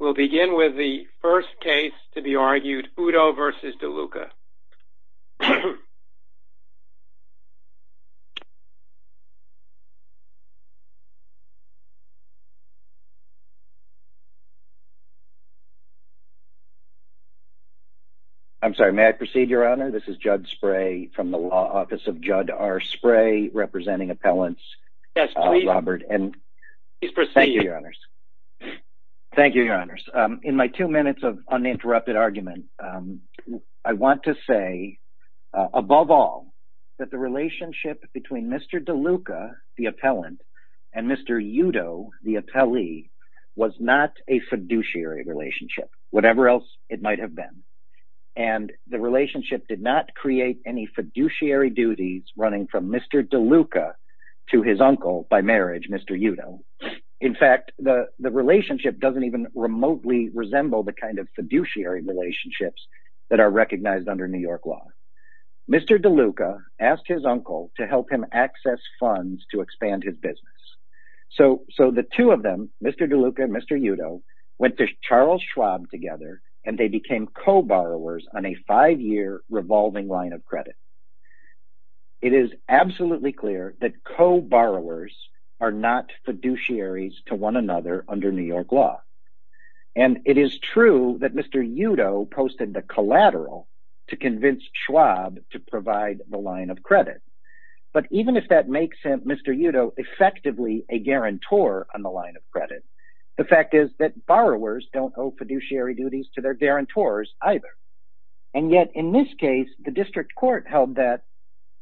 We'll begin with the first case to be argued, Uddo v. DeLuca. I'm sorry, may I proceed, Your Honor? This is Judd Spray from the law office of Judd R. Spray, representing appellants. Yes, please proceed. Thank you, Your Honors. Thank you, Your Honors. In my two minutes of uninterrupted argument, I want to say, above all, that the relationship between Mr. DeLuca, the appellant, and Mr. Uddo, the appellee, was not a fiduciary relationship, whatever else it might have been. And the relationship did not create any fiduciary duties running from Mr. DeLuca to his uncle by marriage, Mr. Uddo. In fact, the relationship doesn't even remotely resemble the kind of fiduciary relationships that are recognized under New York law. Mr. DeLuca asked his uncle to help him access funds to expand his business. So the two of them, Mr. DeLuca and Mr. Uddo, went to Charles Schwab together, and they became co-borrowers on a five-year revolving line of credit. It is absolutely clear that co-borrowers are not fiduciaries to one another under New York law. And it is true that Mr. Uddo posted the collateral to convince Schwab to provide the line of credit. But even if that makes Mr. Uddo effectively a guarantor on the line of credit, the fact is that borrowers don't owe fiduciary duties to their guarantors either. And yet in this case, the district court held that,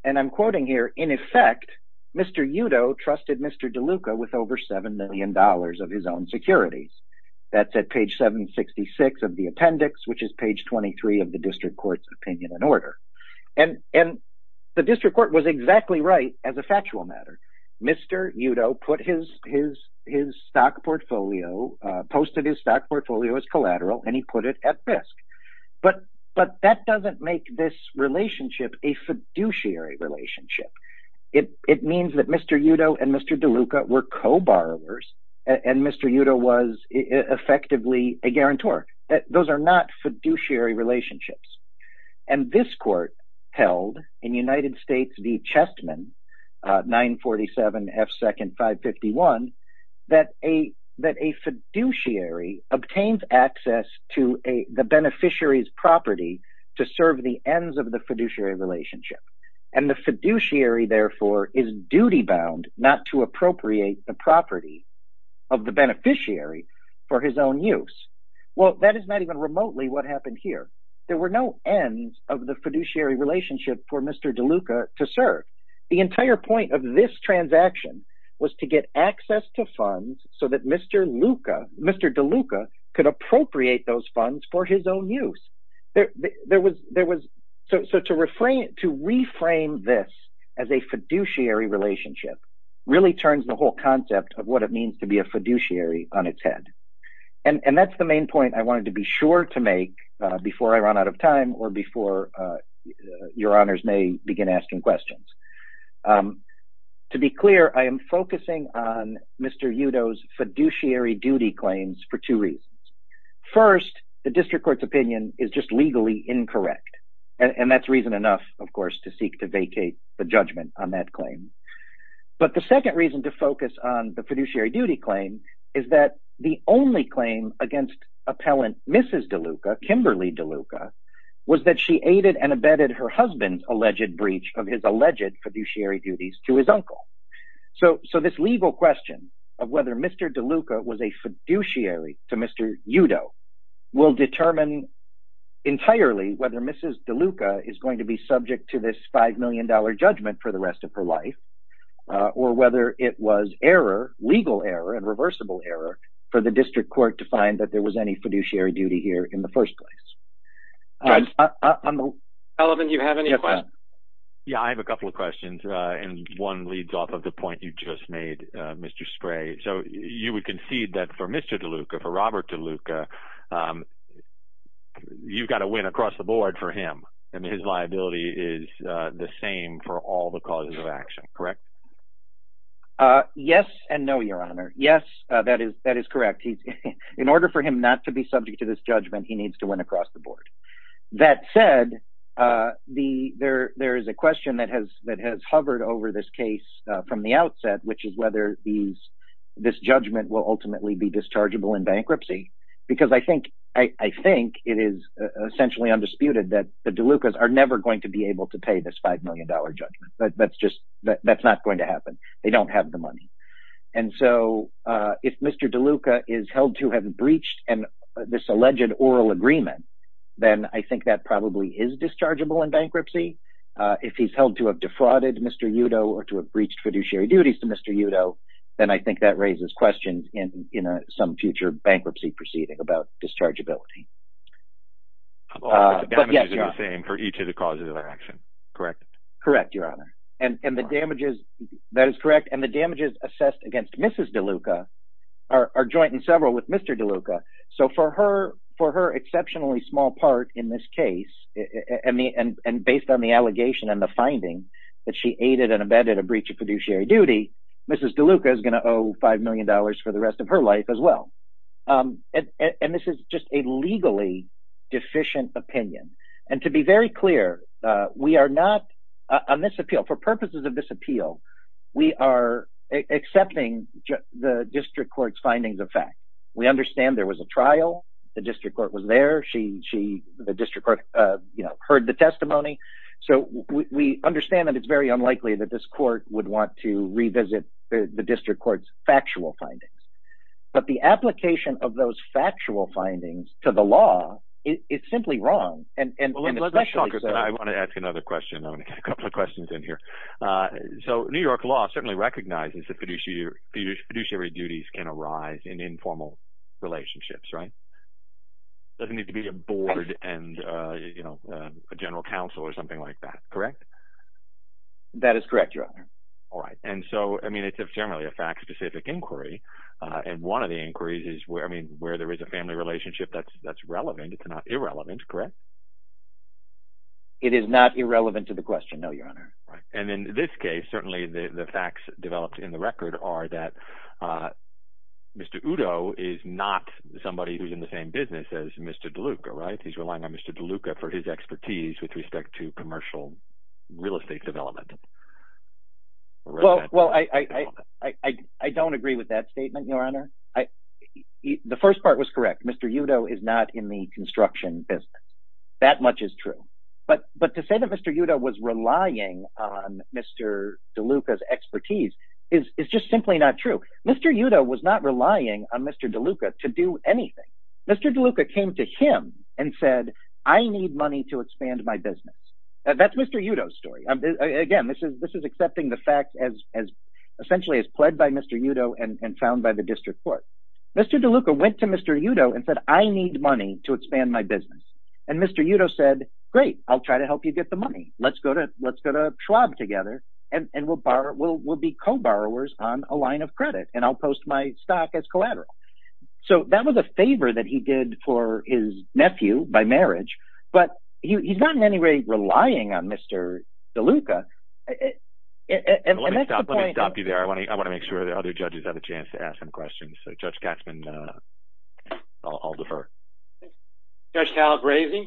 and I'm quoting here, in effect, Mr. Uddo trusted Mr. DeLuca with over $7 million of his own securities. That's at page 766 of the appendix, which is page 23 of the district court's opinion and order. And the district court was exactly right as a factual matter. Mr. Uddo put his stock portfolio, posted his stock portfolio as collateral, and he put it at risk. But that doesn't make this relationship a fiduciary relationship. It means that Mr. Uddo and Mr. DeLuca were co-borrowers, and Mr. Uddo was effectively a guarantor. Those are not fiduciary relationships. And this court held in United States v. Chestman, 947 F. Second 551, that a fiduciary obtains access to the beneficiary's property to serve the ends of the fiduciary relationship. And the fiduciary, therefore, is duty-bound not to appropriate the property of the beneficiary for his own use. Well, that is not even remotely what happened here. There were no ends of the fiduciary relationship for Mr. DeLuca to serve. The entire point of this transaction was to get access to funds so that Mr. DeLuca could appropriate those funds for his own use. So to reframe this as a fiduciary relationship really turns the whole concept of what it means to be a fiduciary on its head. And that's the main point I wanted to be sure to make before I run out of time or before your honors may begin asking questions. To be clear, I am focusing on Mr. Uddo's fiduciary duty claims for two reasons. First, the district court's opinion is just legally incorrect, and that's reason enough, of course, to seek to vacate the judgment on that claim. But the second reason to focus on the fiduciary duty claim is that the only claim against appellant Mrs. DeLuca, Kimberly DeLuca, was that she aided and abetted her husband's alleged breach of his alleged fiduciary duties to his uncle. So this legal question of whether Mr. DeLuca was a fiduciary to Mr. Uddo will determine entirely whether Mrs. DeLuca is going to be subject to this $5 million judgment for the rest of her life, or whether it was error, legal error and reversible error, for the district court to find that there was any fiduciary duty here in the first place. Eliven, do you have any questions? Yeah, I have a couple of questions, and one leads off of the point you just made, Mr. Spray. So you would concede that for Mr. DeLuca, for Robert DeLuca, you've got to win across the board for him, and his liability is the same for all the causes of action, correct? Yes and no, Your Honor. Yes, that is correct. In order for him not to be subject to this judgment, he needs to win across the board. That said, there is a question that has hovered over this case from the outset, which is whether this judgment will ultimately be dischargeable in bankruptcy, because I think it is essentially undisputed that the DeLucas are never going to be able to pay this $5 million judgment. That's just – that's not going to happen. They don't have the money. And so if Mr. DeLuca is held to have breached this alleged oral agreement, then I think that probably is dischargeable in bankruptcy. If he's held to have defrauded Mr. Udo or to have breached fiduciary duties to Mr. Udo, then I think that raises questions in some future bankruptcy proceeding about dischargeability. But the damages are the same for each of the causes of action, correct? Correct, Your Honor. And the damages – that is correct. And the damages assessed against Mrs. DeLuca are joint and several with Mr. DeLuca. So for her exceptionally small part in this case, and based on the allegation and the finding that she aided and abetted a breach of fiduciary duty, Mrs. DeLuca is going to owe $5 million for the rest of her life as well. And this is just a legally deficient opinion. And to be very clear, we are not – on this appeal, for purposes of this appeal, we are accepting the district court's findings of fact. We understand there was a trial. The district court was there. She – the district court heard the testimony. So we understand that it's very unlikely that this court would want to revisit the district court's factual findings. But the application of those factual findings to the law is simply wrong. I want to ask another question. I'm going to get a couple of questions in here. So New York law certainly recognizes that fiduciary duties can arise in informal relationships, right? Doesn't need to be a board and a general counsel or something like that, correct? That is correct, Your Honor. All right, and so it's generally a fact-specific inquiry, and one of the inquiries is where there is a family relationship that's relevant. It's not irrelevant, correct? It is not irrelevant to the question, no, Your Honor. And in this case, certainly the facts developed in the record are that Mr. Udo is not somebody who's in the same business as Mr. DeLuca, right? He's relying on Mr. DeLuca for his expertise with respect to commercial real estate development. Well, I don't agree with that statement, Your Honor. The first part was correct. Mr. Udo is not in the construction business. That much is true. But to say that Mr. Udo was relying on Mr. DeLuca's expertise is just simply not true. Mr. Udo was not relying on Mr. DeLuca to do anything. Mr. DeLuca came to him and said, I need money to expand my business. That's Mr. Udo's story. Again, this is accepting the facts essentially as pled by Mr. Udo and found by the district court. Mr. DeLuca went to Mr. Udo and said, I need money to expand my business. And Mr. Udo said, great, I'll try to help you get the money. Let's go to Schwab together, and we'll be co-borrowers on a line of credit, and I'll post my stock as collateral. So that was a favor that he did for his nephew by marriage, but he's not in any way relying on Mr. DeLuca. And that's the point – Let me stop you there. I want to make sure that other judges have a chance to ask some questions. Judge Gatzman, I'll defer. Judge Calabresi?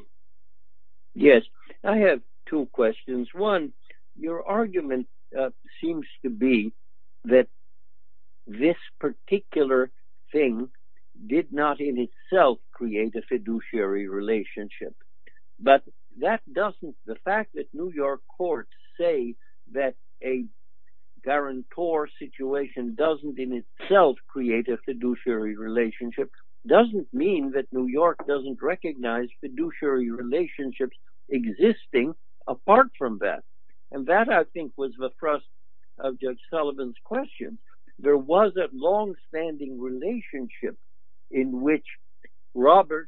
Yes. I have two questions. One, your argument seems to be that this particular thing did not in itself create a fiduciary relationship. But that doesn't – the fact that New York courts say that a guarantor situation doesn't in itself create a fiduciary relationship doesn't mean that New York doesn't recognize fiduciary relationships existing apart from that. And that, I think, was the thrust of Judge Sullivan's question. There was a long-standing relationship in which Robert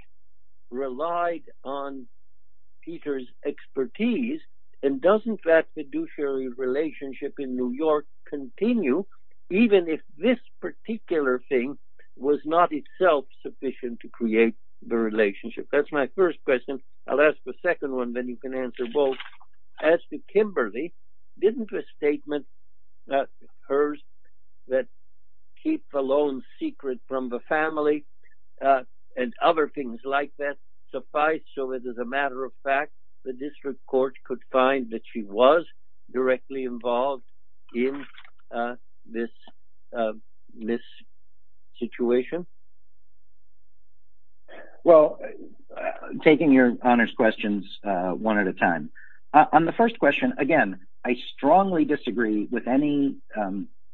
relied on Peter's expertise, and doesn't that fiduciary relationship in New York continue even if this particular thing was not in itself sufficient to create the relationship? That's my first question. I'll ask the second one, then you can answer both. As to Kimberly, didn't the statement that hers, that keep the loans secret from the family and other things like that, suffice? So it is a matter of fact that this court could find that she was directly involved in this situation? Well, taking your honors questions one at a time, on the first question, again, I strongly disagree with any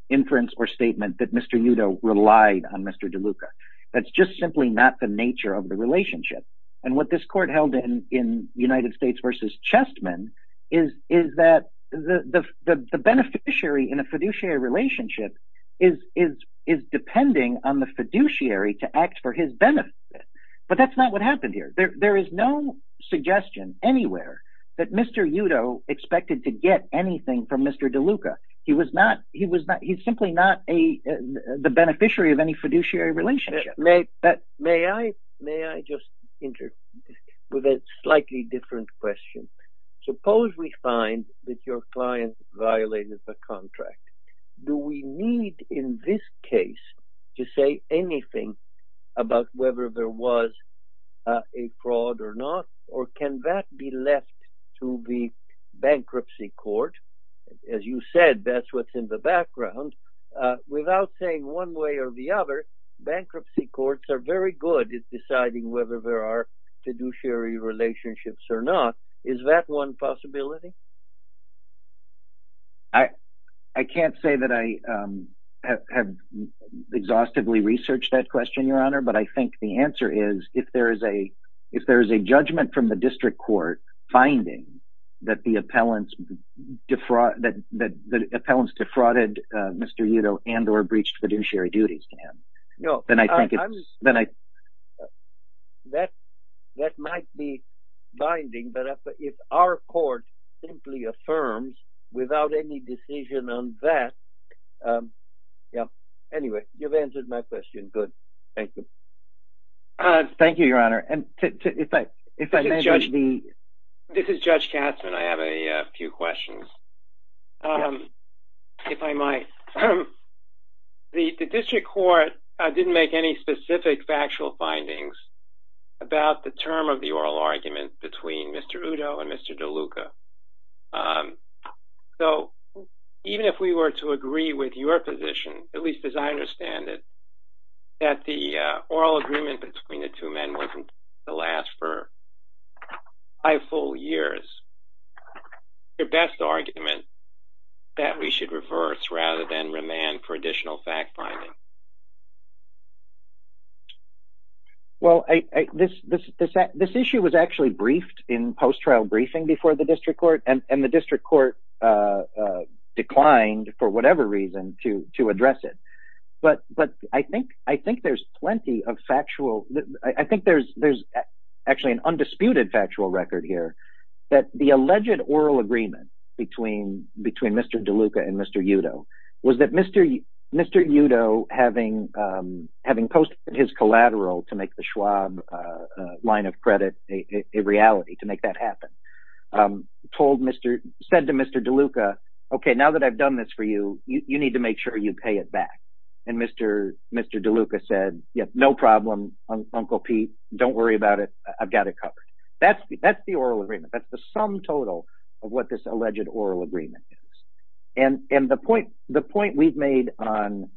inference or statement that Mr. Udo relied on Mr. DeLuca. That's just simply not the nature of the relationship. And what this court held in United States v. Chestman is that the beneficiary in a fiduciary relationship is depending on the fiduciary to act for his benefit. But that's not what happened here. There is no suggestion anywhere that Mr. Udo expected to get anything from Mr. DeLuca. He was not – he's simply not the beneficiary of any fiduciary relationship. May I just interject with a slightly different question? Suppose we find that your client violated the contract. Do we need in this case to say anything about whether there was a fraud or not, or can that be left to the bankruptcy court? As you said, that's what's in the background. Without saying one way or the other, bankruptcy courts are very good at deciding whether there are fiduciary relationships or not. Is that one possibility? I can't say that I have exhaustively researched that question, Your Honor, but I think the answer is if there is a judgment from the district court finding that the appellants defrauded Mr. Udo and or breached fiduciary duties to him. That might be binding, but if our court simply affirms without any decision on that – anyway, you've answered my question. Good. Thank you. Thank you, Your Honor. This is Judge Katzmann. I have a few questions, if I might. The district court didn't make any specific factual findings about the term of the oral argument between Mr. Udo and Mr. DeLuca. So even if we were to agree with your position, at least as I understand it, that the oral agreement between the two men wasn't going to last for five full years, what's your best argument that we should reverse rather than remand for additional fact-finding? Well, this issue was actually briefed in post-trial briefing before the district court, and the district court declined for whatever reason to address it. But I think there's plenty of factual – I think there's actually an undisputed factual record here that the alleged oral agreement between Mr. DeLuca and Mr. Udo was that Mr. Udo, having posted his collateral to make the Schwab line of credit a reality to make that happen, said to Mr. DeLuca, okay, now that I've done this for you, you need to make sure you pay it back. And Mr. DeLuca said, no problem, Uncle Pete, don't worry about it, I've got it covered. That's the oral agreement. That's the sum total of what this alleged oral agreement is. And the point we've made on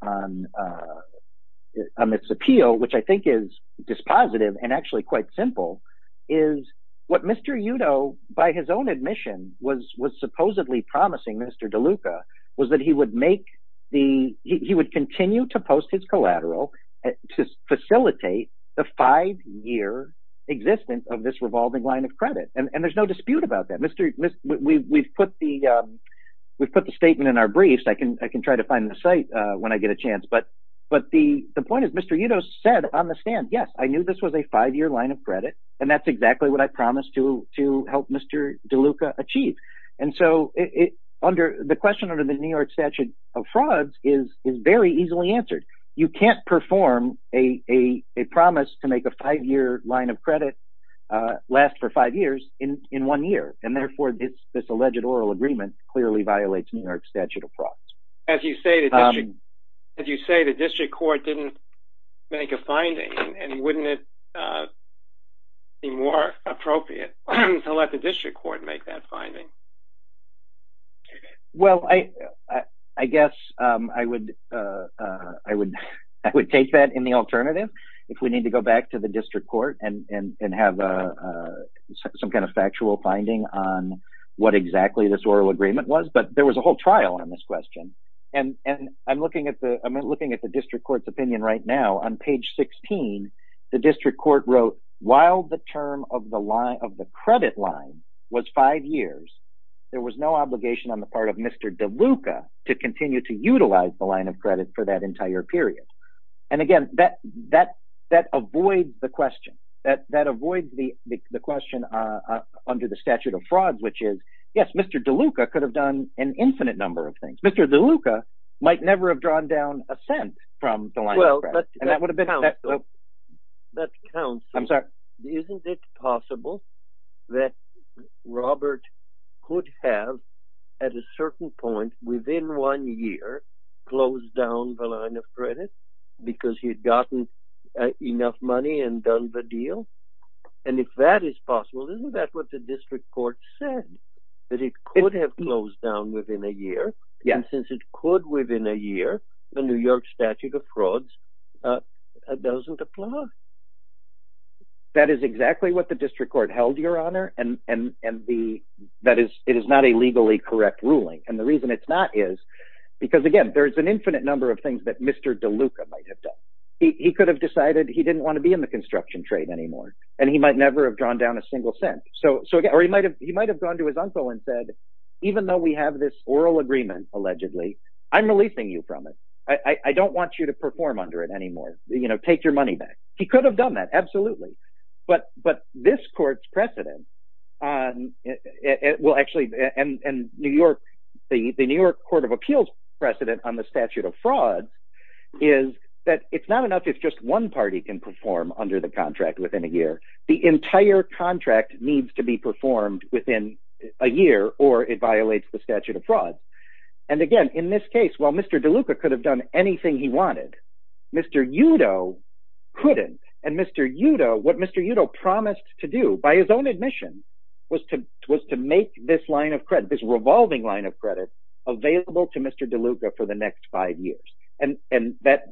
this appeal, which I think is dispositive and actually quite simple, is what Mr. Udo, by his own admission, was supposedly promising Mr. DeLuca was that he would make the – he would continue to post his collateral to facilitate the five-year existence of this revolving line of credit. And there's no dispute about that. We've put the statement in our briefs. I can try to find the site when I get a chance. But the point is Mr. Udo said on the stand, yes, I knew this was a five-year line of credit, and that's exactly what I promised to help Mr. DeLuca achieve. And so the question under the New York Statute of Frauds is very easily answered. You can't perform a promise to make a five-year line of credit last for five years in one year, and therefore this alleged oral agreement clearly violates New York Statute of Frauds. As you say, the district court didn't make a finding, and wouldn't it be more appropriate to let the district court make that finding? Well, I guess I would take that in the alternative if we need to go back to the district court and have some kind of factual finding on what exactly this oral agreement was. But there was a whole trial on this question, and I'm looking at the district court's opinion right now. On page 16, the district court wrote, while the term of the credit line was five years, there was no obligation on the part of Mr. DeLuca to continue to utilize the line of credit for that entire period. And again, that avoids the question. That avoids the question under the Statute of Frauds, which is, yes, Mr. DeLuca could have done an infinite number of things. Mr. DeLuca might never have drawn down a cent from the line of credit. Isn't it possible that Robert could have, at a certain point within one year, closed down the line of credit because he had gotten enough money and done the deal? And if that is possible, isn't that what the district court said, that it could have closed down within a year? And since it could within a year, the New York Statute of Frauds doesn't apply. That is exactly what the district court held, Your Honor, and it is not a legally correct ruling. And the reason it's not is because, again, there is an infinite number of things that Mr. DeLuca might have done. He could have decided he didn't want to be in the construction trade anymore, and he might never have drawn down a single cent. Or he might have gone to his uncle and said, even though we have this oral agreement, allegedly, I'm releasing you from it. I don't want you to perform under it anymore. Take your money back. He could have done that, absolutely. But this court's precedent, and the New York Court of Appeals precedent on the Statute of Frauds, is that it's not enough if just one party can perform under the contract within a year. The entire contract needs to be performed within a year, or it violates the Statute of Frauds. And again, in this case, while Mr. DeLuca could have done anything he wanted, Mr. Udo couldn't. And Mr. Udo, what Mr. Udo promised to do, by his own admission, was to make this line of credit, this revolving line of credit, available to Mr. DeLuca for the next five years. And that,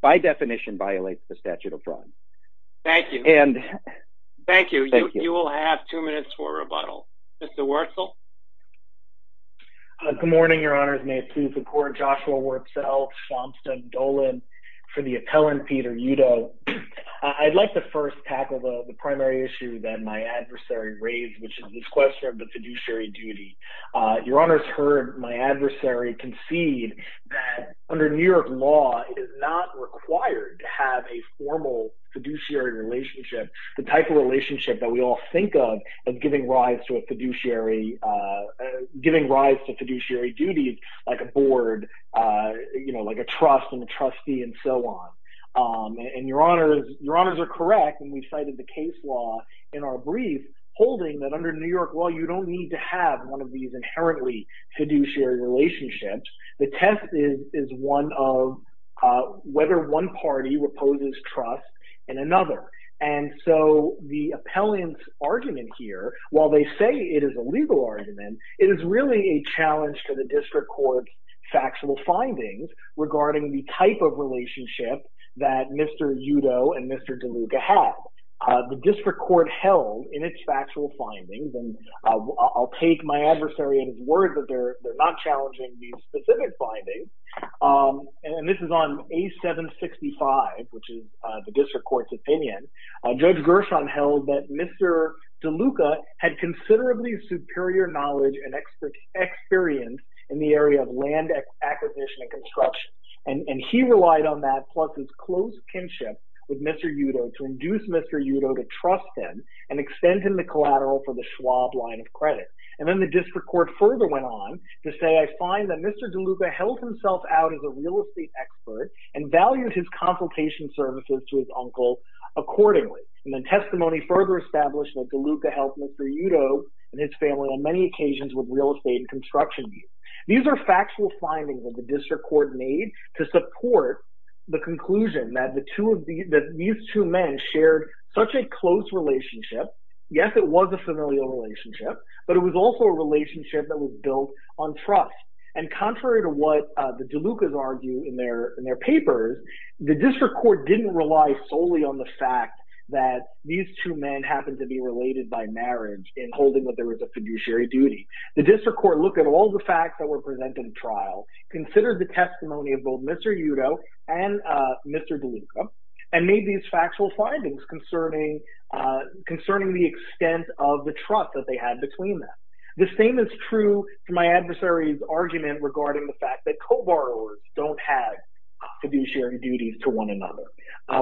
by definition, violates the Statute of Frauds. Thank you. Thank you. You will have two minutes for rebuttal. Mr. Wurtzel? Good morning, Your Honors. May it please the Court, Joshua Wurtzel, Schwab, Steg, Dolan. For the appellant, Peter Udo, I'd like to first tackle the primary issue that my adversary raised, which is this question of the fiduciary duty. Your Honors heard my adversary concede that under New York law, it is not required to have a formal fiduciary relationship, the type of relationship that we all think of as giving rise to a fiduciary, giving rise to fiduciary duties like a board, you know, like a trust and a trustee and so on. And Your Honors are correct when we cited the case law in our brief holding that under New York law, you don't need to have one of these inherently fiduciary relationships. The test is one of whether one party reposes trust in another. And so the appellant's argument here, while they say it is a legal argument, it is really a challenge to the district court's factual findings regarding the type of relationship that Mr. Udo and Mr. DeLuca have. The district court held in its factual findings, and I'll take my adversary at his word that they're not challenging these specific findings, and this is on A765, which is the district court's opinion. Judge Gershon held that Mr. DeLuca had considerably superior knowledge and experience in the area of land acquisition and construction, and he relied on that plus his close kinship with Mr. Udo to induce Mr. Udo to trust him and extend him the collateral for the Schwab line of credit. And then the district court further went on to say, I find that Mr. DeLuca held himself out as a real estate expert and valued his consultation services to his uncle accordingly. And then testimony further established that DeLuca helped Mr. Udo and his family on many occasions with real estate and construction use. These are factual findings that the district court made to support the conclusion that these two men shared such a close relationship. Yes, it was a familial relationship, but it was also a relationship that was built on trust. And contrary to what the DeLucas argue in their papers, the district court didn't rely solely on the fact that these two men happened to be related by marriage in holding what there was a fiduciary duty. The district court looked at all the facts that were presented in trial, considered the testimony of both Mr. Udo and Mr. DeLuca, and made these factual findings concerning the extent of the trust that they had between them. The same is true to my adversary's argument regarding the fact that co-borrowers don't have fiduciary duties to one another.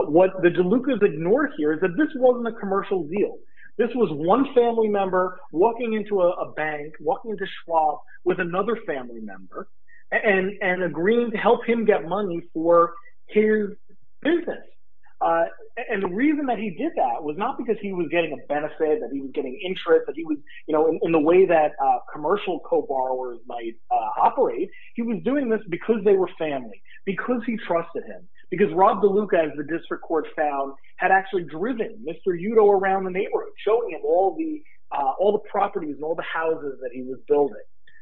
What the DeLucas ignore here is that this wasn't a commercial deal. This was one family member walking into a bank, walking into Schwab with another family member and agreeing to help him get money for his business. And the reason that he did that was not because he was getting a benefit, that he was getting interest in the way that commercial co-borrowers might operate. He was doing this because they were family, because he trusted him, because Rob DeLuca, as the district court found, had actually driven Mr. Udo around the neighborhood, showing him all the properties and all the houses that he was building.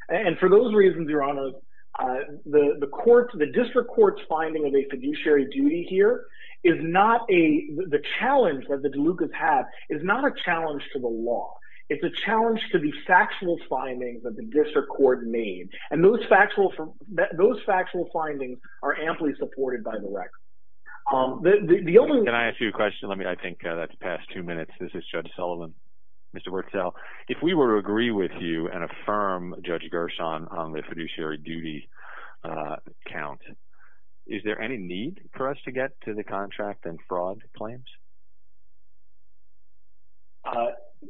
And for those reasons, Your Honor, the district court's finding of a fiduciary duty here, the challenge that the DeLucas have is not a challenge to the law. It's a challenge to the factual findings that the district court made. And those factual findings are amply supported by the record. Can I ask you a question? I think that's past two minutes. This is Judge Sullivan, Mr. Wurtzel. If we were to agree with you and affirm Judge Gershon on the fiduciary duty count, is there any need for us to get to the contract and fraud claims?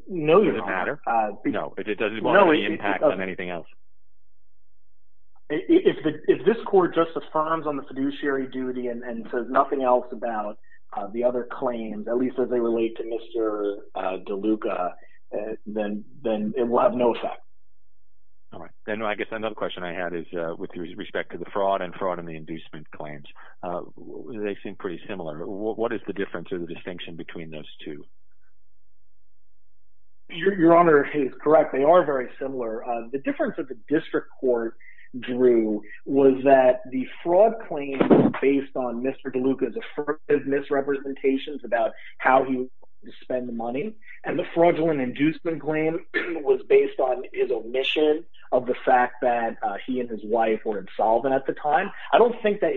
No, Your Honor. Does it matter? No, it doesn't want to have any impact on anything else? If this court just affirms on the fiduciary duty and says nothing else about the other claims, at least as they relate to Mr. DeLuca, then it will have no effect. All right. Then I guess another question I had is with respect to the fraud and fraud in the inducement claims. They seem pretty similar. What is the difference or the distinction between those two? Your Honor is correct. They are very similar. The difference that the district court drew was that the fraud claim was based on Mr. DeLuca's affirmative misrepresentations about how he was going to spend the money, and the fraudulent inducement claim was based on his omission of the fact that he and his wife were insolvent at the time. I don't think that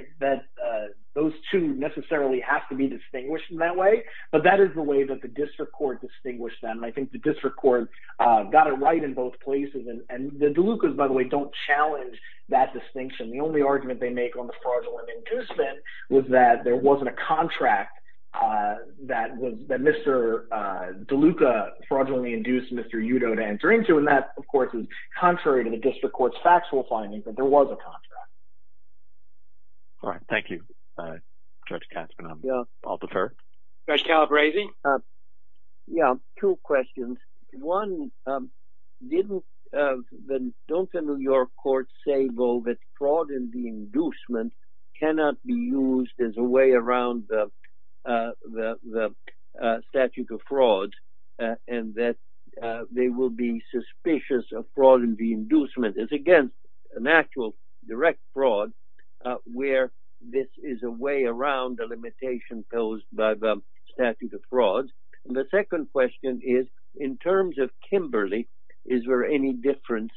those two necessarily have to be distinguished in that way, but that is the way that the district court distinguished them. I think the district court got it right in both places, and the DeLucas, by the way, don't challenge that distinction. The only argument they make on the fraudulent inducement was that there wasn't a contract that Mr. DeLuca fraudulently induced Mr. Udo to enter into, and that, of course, is contrary to the district court's factual findings that there was a contract. All right. Thank you, Judge Kasper. I'll defer. Judge Calabresi? Yeah, two questions. One, don't the New York courts say, though, that fraud in the inducement cannot be used as a way around the statute of fraud, and that they will be suspicious of fraud in the inducement? It's against an actual direct fraud where this is a way around the limitation posed by the statute of fraud. The second question is, in terms of Kimberly, is there any difference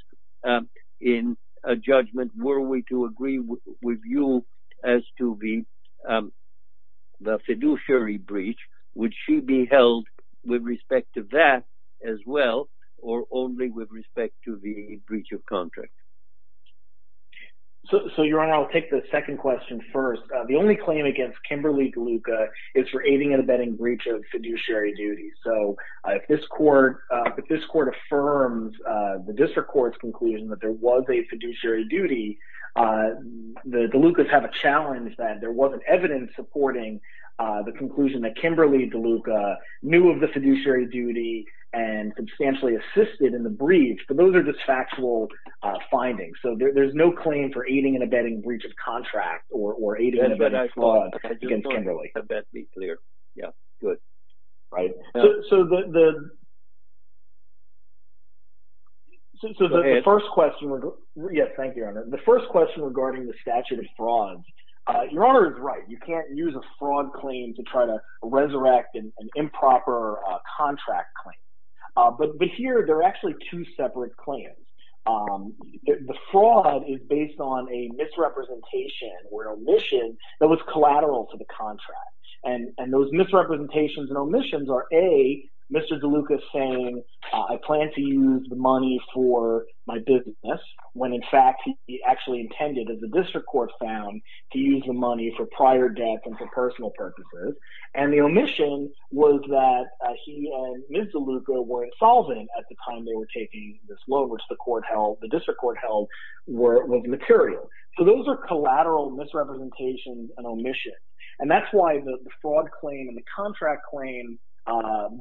in a judgment? Were we to agree with you as to the fiduciary breach? Would she be held with respect to that as well, or only with respect to the breach of contract? So, Your Honor, I'll take the second question first. The only claim against Kimberly DeLuca is for aiding and abetting breach of fiduciary duty. So if this court affirms the district court's conclusion that there was a fiduciary duty, the DeLucas have a challenge that there wasn't evidence supporting the conclusion that Kimberly DeLuca knew of the fiduciary duty and substantially assisted in the breach, but those are just factual findings. So there's no claim for aiding and abetting breach of contract or aiding and abetting fraud against Kimberly. Abet, be clear. Good. So the first question – yes, thank you, Your Honor. The first question regarding the statute of fraud, Your Honor is right. You can't use a fraud claim to try to resurrect an improper contract claim. But here, there are actually two separate claims. The fraud is based on a misrepresentation or an omission that was collateral to the contract. And those misrepresentations and omissions are, A, Mr. DeLuca saying, I plan to use the money for my business when, in fact, he actually intended, as the district court found, to use the money for prior debt and for personal purposes. And the omission was that he and Ms. DeLuca were insolvent at the time they were taking this law, which the court held – the district court held was material. So those are collateral misrepresentations and omissions, and that's why the fraud claim and the contract claim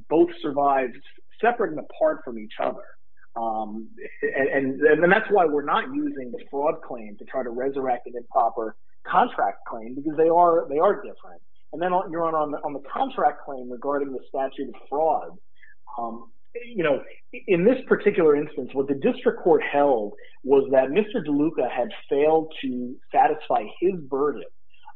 both survived separate and apart from each other. And that's why we're not using the fraud claim to try to resurrect an improper contract claim because they are different. And then, Your Honor, on the contract claim regarding the statute of fraud, in this particular instance, what the district court held was that Mr. DeLuca had failed to satisfy his burden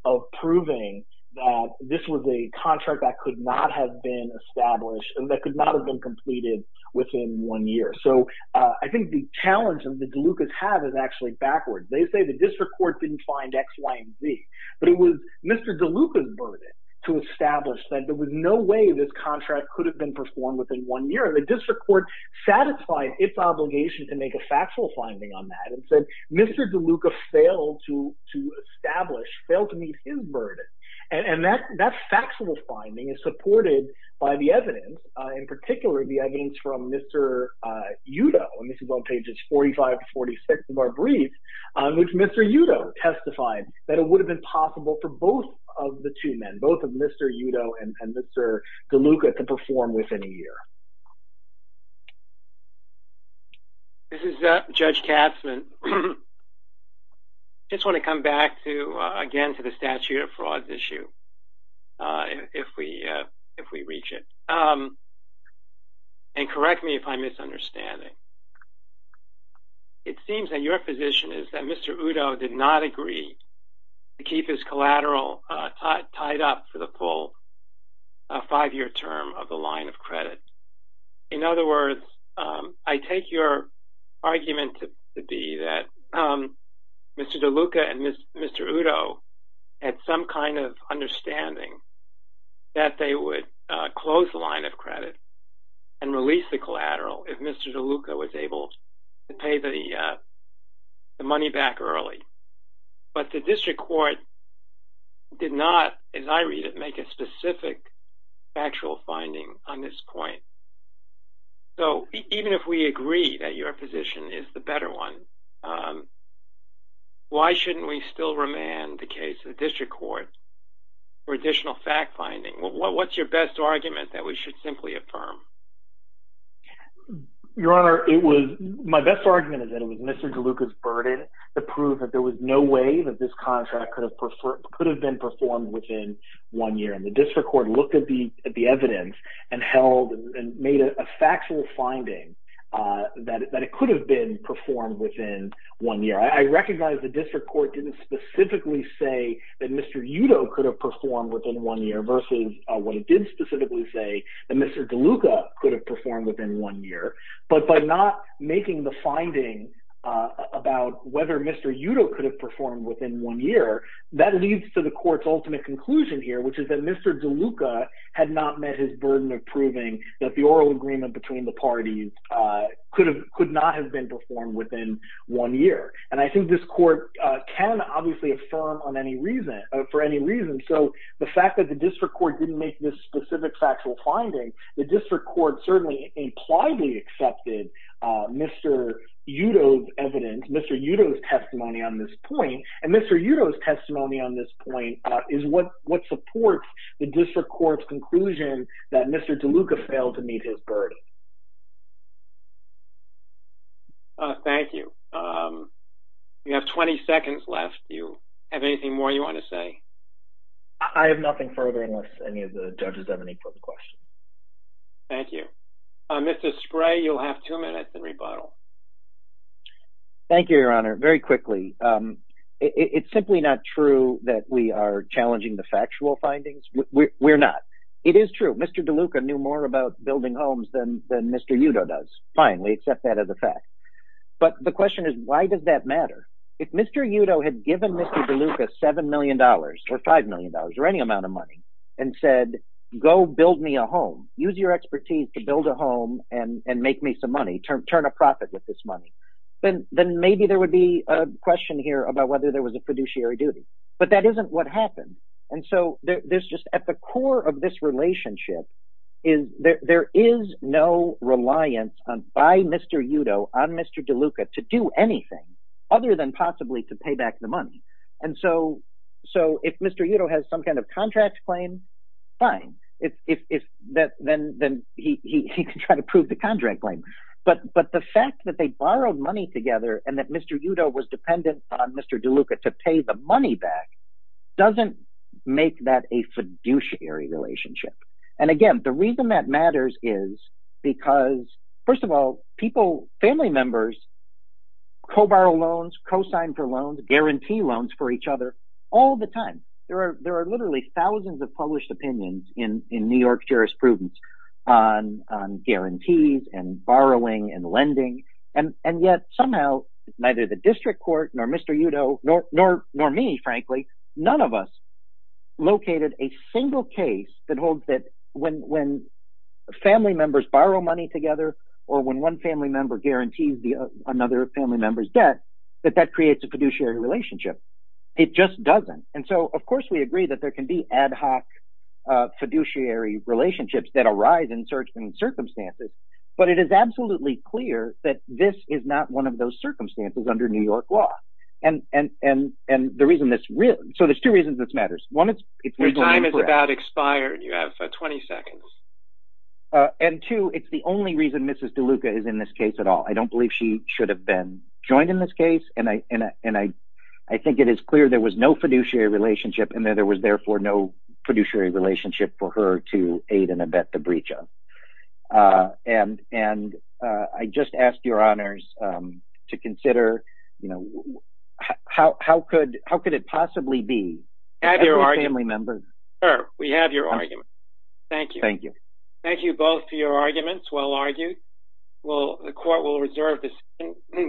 of proving that this was a contract that could not have been established – that could not have been completed within one year. So I think the challenge that the DeLucas have is actually backwards. They say the district court didn't find X, Y, and Z, but it was Mr. DeLuca's burden to establish that there was no way this contract could have been performed within one year. And the district court satisfied its obligation to make a factual finding on that and said Mr. DeLuca failed to establish – failed to meet his burden. And that factual finding is supported by the evidence, in particular the evidence from Mr. Udo – and this is on pages 45 to 46 of our brief – which Mr. Udo testified that it would have been possible for both of the two men, both of Mr. Udo and Mr. DeLuca, to perform within a year. This is Judge Katzman. I just want to come back to, again, to the statute of fraud issue, if we reach it. And correct me if I'm misunderstanding. It seems that your position is that Mr. Udo did not agree to keep his collateral tied up for the full five-year term of the line of credit. In other words, I take your argument to be that Mr. DeLuca and Mr. Udo had some kind of understanding that they would close the line of credit and release the collateral if Mr. DeLuca was able to pay the money back early. But the district court did not, as I read it, make a specific factual finding on this point. So even if we agree that your position is the better one, why shouldn't we still remand the case to the district court for additional fact-finding? What's your best argument that we should simply affirm? Your Honor, my best argument is that it was Mr. DeLuca's burden to prove that there was no way that this contract could have been performed within one year. And the district court looked at the evidence and held and made a factual finding that it could have been performed within one year. I recognize the district court didn't specifically say that Mr. Udo could have performed within one year versus what it did specifically say that Mr. DeLuca could have performed within one year. But by not making the finding about whether Mr. Udo could have performed within one year, that leads to the court's ultimate conclusion here, which is that Mr. DeLuca had not met his burden of proving that the oral agreement between the parties could not have been performed within one year. And I think this court can obviously affirm for any reason. So the fact that the district court didn't make this specific factual finding, the district court certainly impliedly accepted Mr. Udo's evidence, Mr. Udo's testimony on this point. And Mr. Udo's testimony on this point is what supports the district court's conclusion that Mr. DeLuca failed to meet his burden. Thank you. You have 20 seconds left. Do you have anything more you want to say? I have nothing further unless any of the judges have any further questions. Thank you. Mr. Spray, you'll have two minutes in rebuttal. Thank you, Your Honor. Very quickly, it's simply not true that we are challenging the factual findings. We're not. It is true. Mr. DeLuca knew more about building homes than Mr. Udo does, fine. We accept that as a fact. But the question is, why does that matter? If Mr. Udo had given Mr. DeLuca $7 million or $5 million or any amount of money and said, go build me a home, use your expertise to build a home and make me some money, turn a profit with this money, then maybe there would be a question here about whether there was a fiduciary duty. But that isn't what happened. At the core of this relationship, there is no reliance by Mr. Udo on Mr. DeLuca to do anything other than possibly to pay back the money. And so if Mr. Udo has some kind of contract claim, fine. Then he can try to prove the contract claim. But the fact that they borrowed money together and that Mr. Udo was dependent on Mr. DeLuca to pay the money back doesn't make that a fiduciary relationship. And again, the reason that matters is because, first of all, people, family members, co-borrow loans, co-sign for loans, guarantee loans for each other all the time. There are literally thousands of published opinions in New York jurisprudence on guarantees and borrowing and lending. And yet somehow neither the district court nor Mr. Udo nor me, frankly, none of us located a single case that holds that when family members borrow money together or when one family member guarantees another family member's debt that that creates a fiduciary relationship. It just doesn't. And so of course we agree that there can be ad hoc fiduciary relationships that arise in certain circumstances. But it is absolutely clear that this is not one of those circumstances under New York law. And the reason this – so there's two reasons this matters. One is – Your time is about expired. You have 20 seconds. And two, it's the only reason Mrs. DeLuca is in this case at all. I don't believe she should have been joined in this case. And I think it is clear there was no fiduciary relationship and that there was therefore no fiduciary relationship for her to aid and abet the breach of. And I just ask your honors to consider, you know, how could it possibly be? Have your argument. Every family member. Sure. We have your argument. Thank you. Thank you. Thank you both for your arguments. Well argued. Well, the court will reserve this.